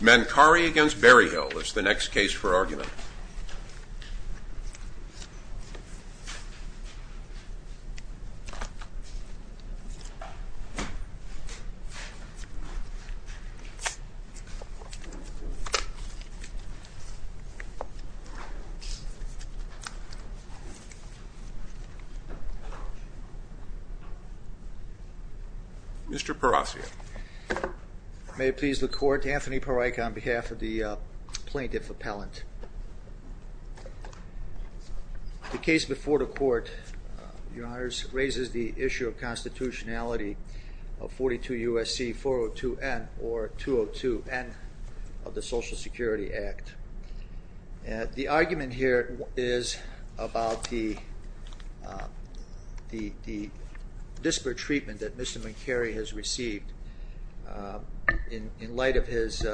Mancari v. Berryhill is the next case for argument. Mr. Parasio. May it please the court, Anthony Parasio on behalf of the plaintiff appellant. The case before the court raises the issue of constitutionality of 42 U.S.C. 402 N or 202 N of the Social Security Act. The argument here is about the disparate treatment that Mr. Mancari has received in light of his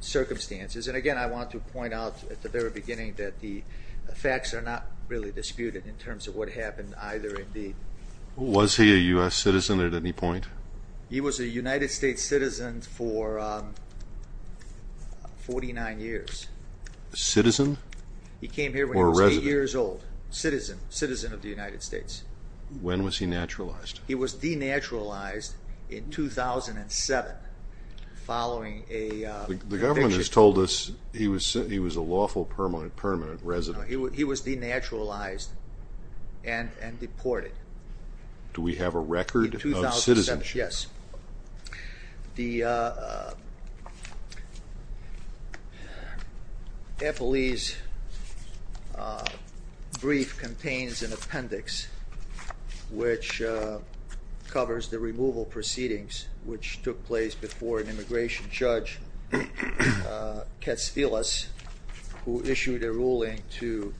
circumstances. And again, I want to point out at the very beginning that the facts are not really disputed in terms of what happened either in the... Was he a U.S. citizen at any point? He was a United States citizen for 49 years. Citizen or resident? He came here when he was 8 years old, citizen, citizen of the United States. When was he naturalized? He was denaturalized in 2007 following a conviction. The government has told us he was a lawful permanent resident. He was denaturalized and deported. Do we have a record of citizenship? Yes. The appellee's brief contains an appendix which covers the removal proceedings which took place before an immigration judge, Katsfilas, who issued a ruling to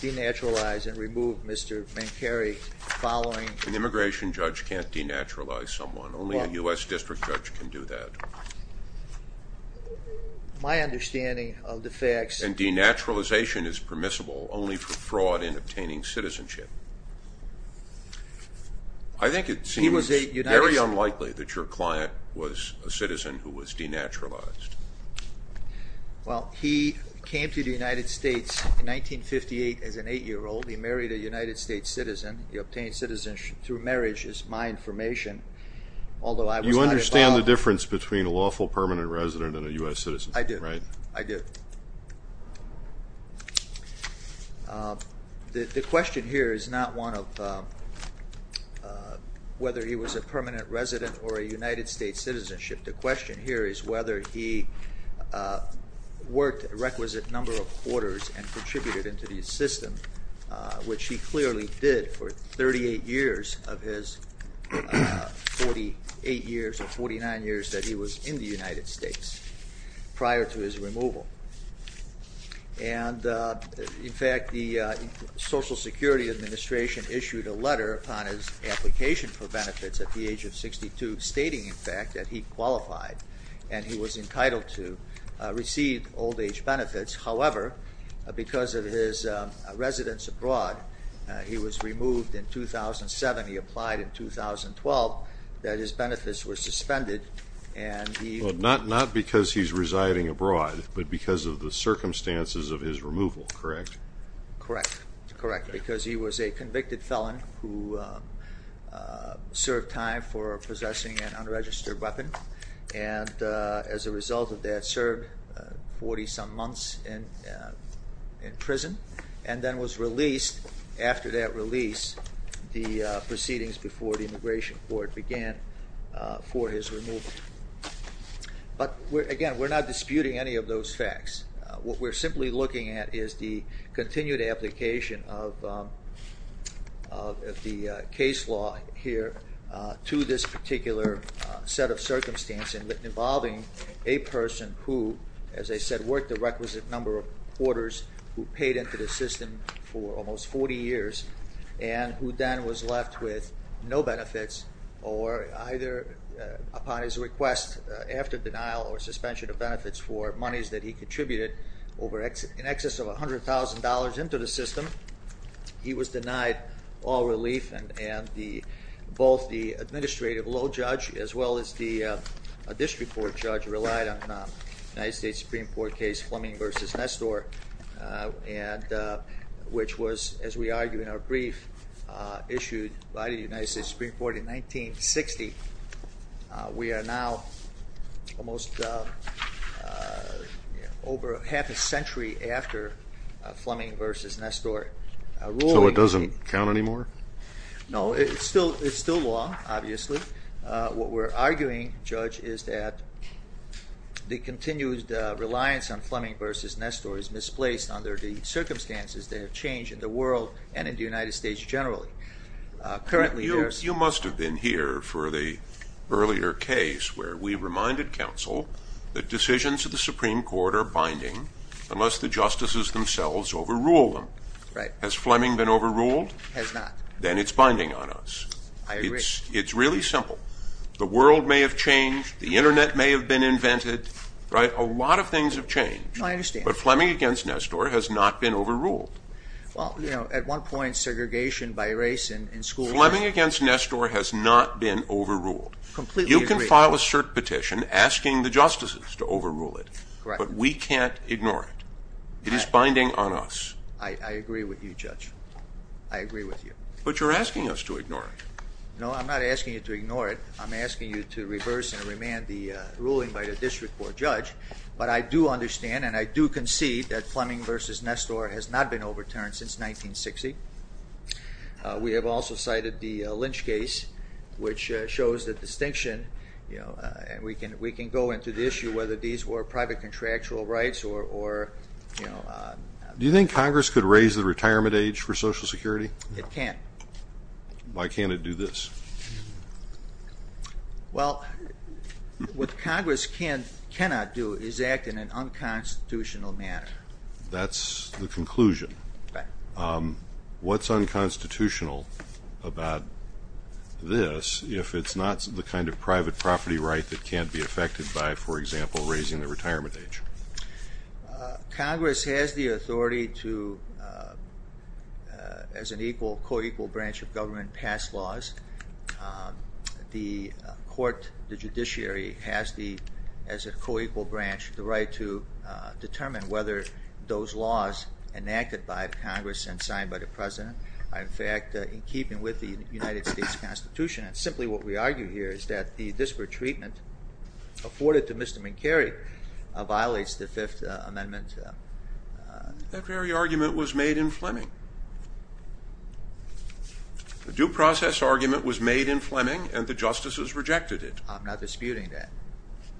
denaturalize and remove Mr. Mancari following... Only a U.S. district judge can do that. My understanding of the facts... And denaturalization is permissible only for fraud in obtaining citizenship. I think it seems very unlikely that your client was a citizen who was denaturalized. Well, he came to the United States in 1958 as an 8-year-old. He married a United States citizen. The obtained citizenship through marriage is my information, although I was not involved... You understand the difference between a lawful permanent resident and a U.S. citizen, right? I do. The question here is not one of whether he was a permanent resident or a United States citizenship. The question here is whether he worked a requisite number of quarters and contributed into the system, which he clearly did for 38 years of his 48 years or 49 years that he was in the United States prior to his removal. And in fact, the Social Security Administration issued a letter upon his application for benefits at the age of 62 stating, in fact, that he qualified and he was entitled to receive old-age benefits. However, because of his residence abroad, he was removed in 2007. He applied in 2012, that his benefits were suspended and he... Not because he's residing abroad, but because of the circumstances of his removal, correct? Correct. Correct. Because he was a convicted felon who served time for possessing an unregistered weapon and, as a result of that, served 40-some months in prison and then was released, after that release, the proceedings before the Immigration Court began for his removal. But again, we're not disputing any of those facts. What we're simply looking at is the continued application of the case law here to this particular set of circumstances involving a person who, as I said, worked a requisite number of quarters who paid into the system for almost 40 years and who then was left with no benefits or either, upon his request, after denial or suspension of benefits for monies that he contributed in excess of $100,000 into the system. He was denied all relief and both the administrative law judge as well as the district court judge relied on a United States Supreme Court case, Fleming v. Nestor, which was, as we argue in our brief, issued by the United States Supreme Court in 1960. We are now almost over half a century after Fleming v. Nestor ruling. So it doesn't count anymore? No, it's still law, obviously. What we're arguing, Judge, is that the continued reliance on Fleming v. Nestor is misplaced under the circumstances that have changed in the world and in the United States generally. You must have been here for the earlier case where we reminded counsel that decisions of the Supreme Court are binding unless the justices themselves overrule them. Has Fleming been overruled? Has not. Then it's binding on us. I agree. It's really simple. The world may have changed. The internet may have been invented. A lot of things have changed. I understand. But Fleming v. Nestor has not been overruled. Well, you know, at one point segregation by race in school. Fleming v. Nestor has not been overruled. Completely agree. You can file a cert petition asking the justices to overrule it. Correct. But we can't ignore it. It is binding on us. I agree with you, Judge. I agree with you. But you're asking us to ignore it. No, I'm not asking you to ignore it. I'm asking you to reverse and remand the ruling by the district court judge. But I do understand and I do concede that Fleming v. Nestor has not been overturned since 1960. We have also cited the Lynch case, which shows the distinction. We can go into the issue whether these were private contractual rights or, you know. Do you think Congress could raise the retirement age for Social Security? It can't. Why can't it do this? Well, what Congress cannot do is act in an unconstitutional manner. That's the conclusion. Right. What's unconstitutional about this if it's not the kind of private property right that can't be affected by, for example, raising the retirement age? Congress has the authority to, as an equal, co-equal branch of government, pass laws. The court, the judiciary, has the, as a co-equal branch, the right to determine whether those laws enacted by Congress and signed by the President are, in fact, in keeping with the United States Constitution. And simply what we argue here is that the disparate treatment afforded to Mr. McCary violates the Fifth Amendment. That very argument was made in Fleming. The due process argument was made in Fleming and the justices rejected it. I'm not disputing that.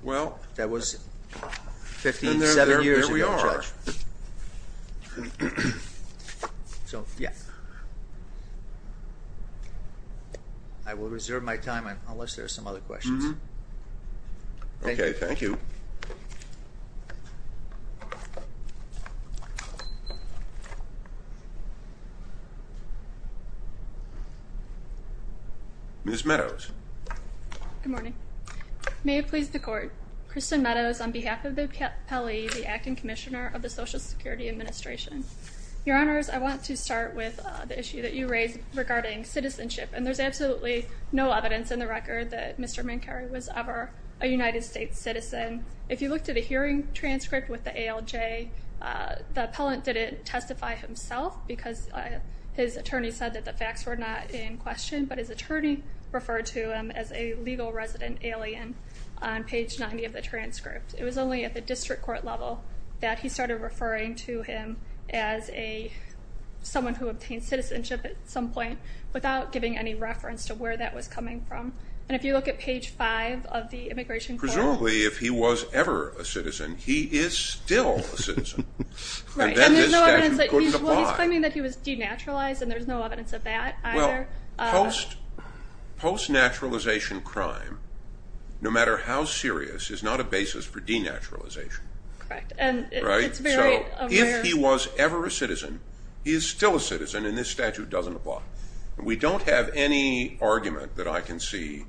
Well. And there we are. So, yes. I will reserve my time unless there are some other questions. Okay, thank you. Good morning. May it please the Court. Kristen Meadows on behalf of the appellee, the Acting Commissioner of the Social Security Administration. Your Honors, I want to start with the issue that you raised regarding citizenship. And there's absolutely no evidence in the record that Mr. McCary was ever a United States citizen. If you looked at a hearing transcript with the ALJ, the appellant didn't testify himself because his attorney said that the facts were not in question. But his attorney referred to him as a legal resident alien on page 90 of the transcript. It was only at the district court level that he started referring to him as someone who obtained citizenship at some point, without giving any reference to where that was coming from. And if you look at page 5 of the Immigration Court. Presumably, if he was ever a citizen, he is still a citizen. Right. And there's no evidence that he was denaturalized, and there's no evidence of that either. Post-naturalization crime, no matter how serious, is not a basis for denaturalization. Correct. Right? So if he was ever a citizen, he is still a citizen, and this statute doesn't apply. We don't have any argument that I can see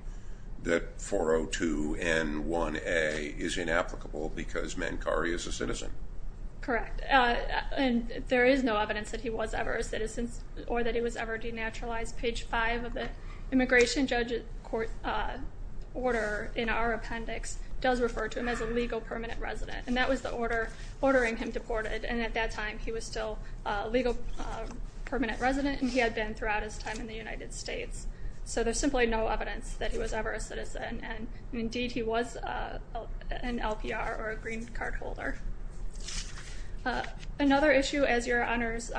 that 402 N1A is inapplicable because Mankari is a citizen. Correct. And there is no evidence that he was ever a citizen or that he was ever denaturalized. Page 5 of the Immigration Judge Order in our appendix does refer to him as a legal permanent resident, and that was the order ordering him deported. And at that time, he was still a legal permanent resident, and he had been throughout his time in the United States. So there's simply no evidence that he was ever a citizen. And, indeed, he was an LPR or a green card holder. Another issue, as your honors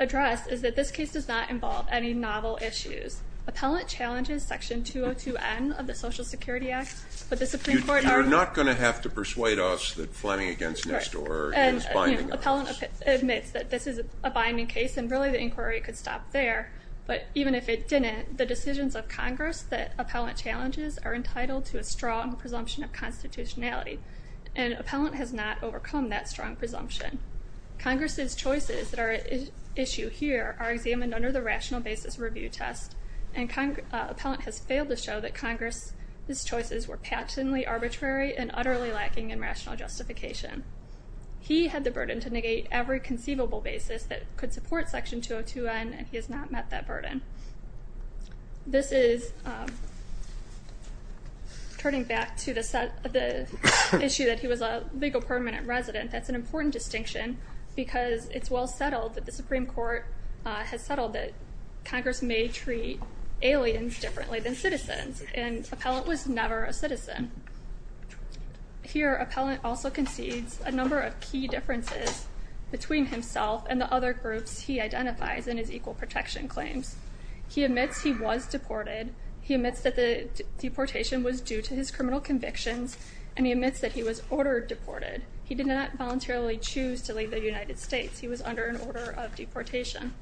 addressed, is that this case does not involve any novel issues. Appellant challenges Section 202 N of the Social Security Act, but the Supreme Court are going to – You're not going to have to persuade us that flamming against Nestor is binding on us. Appellant admits that this is a binding case, and really the inquiry could stop there. But even if it didn't, the decisions of Congress that Appellant challenges are entitled to a strong presumption of constitutionality, and Appellant has not overcome that strong presumption. Congress's choices that are at issue here are examined under the rational basis review test, and Appellant has failed to show that Congress's choices were passionately arbitrary and utterly lacking in rational justification. He had the burden to negate every conceivable basis that could support Section 202 N, and he has not met that burden. This is, turning back to the issue that he was a legal permanent resident, that's an important distinction because it's well settled that the Supreme Court has settled that Congress may treat aliens differently than citizens, and Appellant was never a citizen. Here, Appellant also concedes a number of key differences between himself and the other groups he identifies in his equal protection claims. He admits he was deported, he admits that the deportation was due to his criminal convictions, and he admits that he was ordered deported. He did not voluntarily choose to leave the United States. He was under an order of deportation.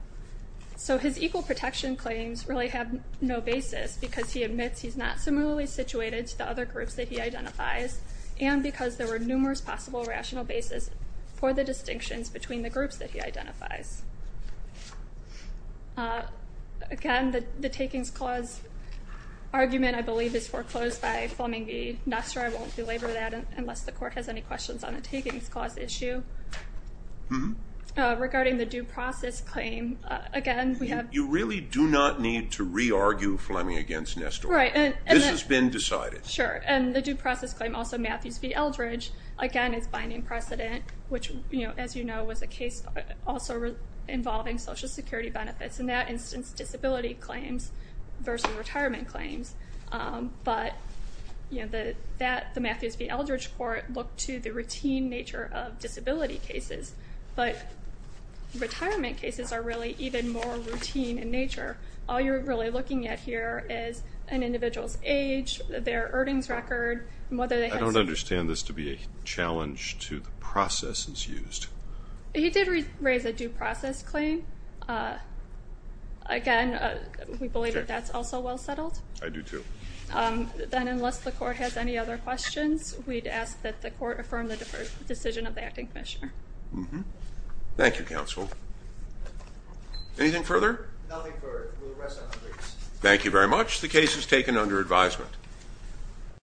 So his equal protection claims really have no basis because he admits he's not similarly situated to the other groups that he identifies, and because there were numerous possible rational basis for the distinctions between the groups that he identifies. Again, the takings clause argument, I believe, is foreclosed by Fleming v. Nassar. I won't belabor that unless the court has any questions on the takings clause issue. Regarding the due process claim, again, we have... You really do not need to re-argue Fleming v. Nassar. Right. This has been decided. Sure, and the due process claim, also Matthews v. Eldridge, again, is binding precedent, which, as you know, was a case also involving Social Security benefits. In that instance, disability claims versus retirement claims, but the Matthews v. Eldridge court looked to the routine nature of disability cases, but retirement cases are really even more routine in nature. All you're really looking at here is an individual's age, their earnings record, and whether they had... I don't understand this to be a challenge to the processes used. He did raise a due process claim. Again, we believe that that's also well settled. I do, too. Then unless the court has any other questions, we'd ask that the court affirm the decision of the acting commissioner. Thank you, counsel. Anything further? Nothing further. We'll rest on hundreds. Thank you very much. The case is taken under advisement.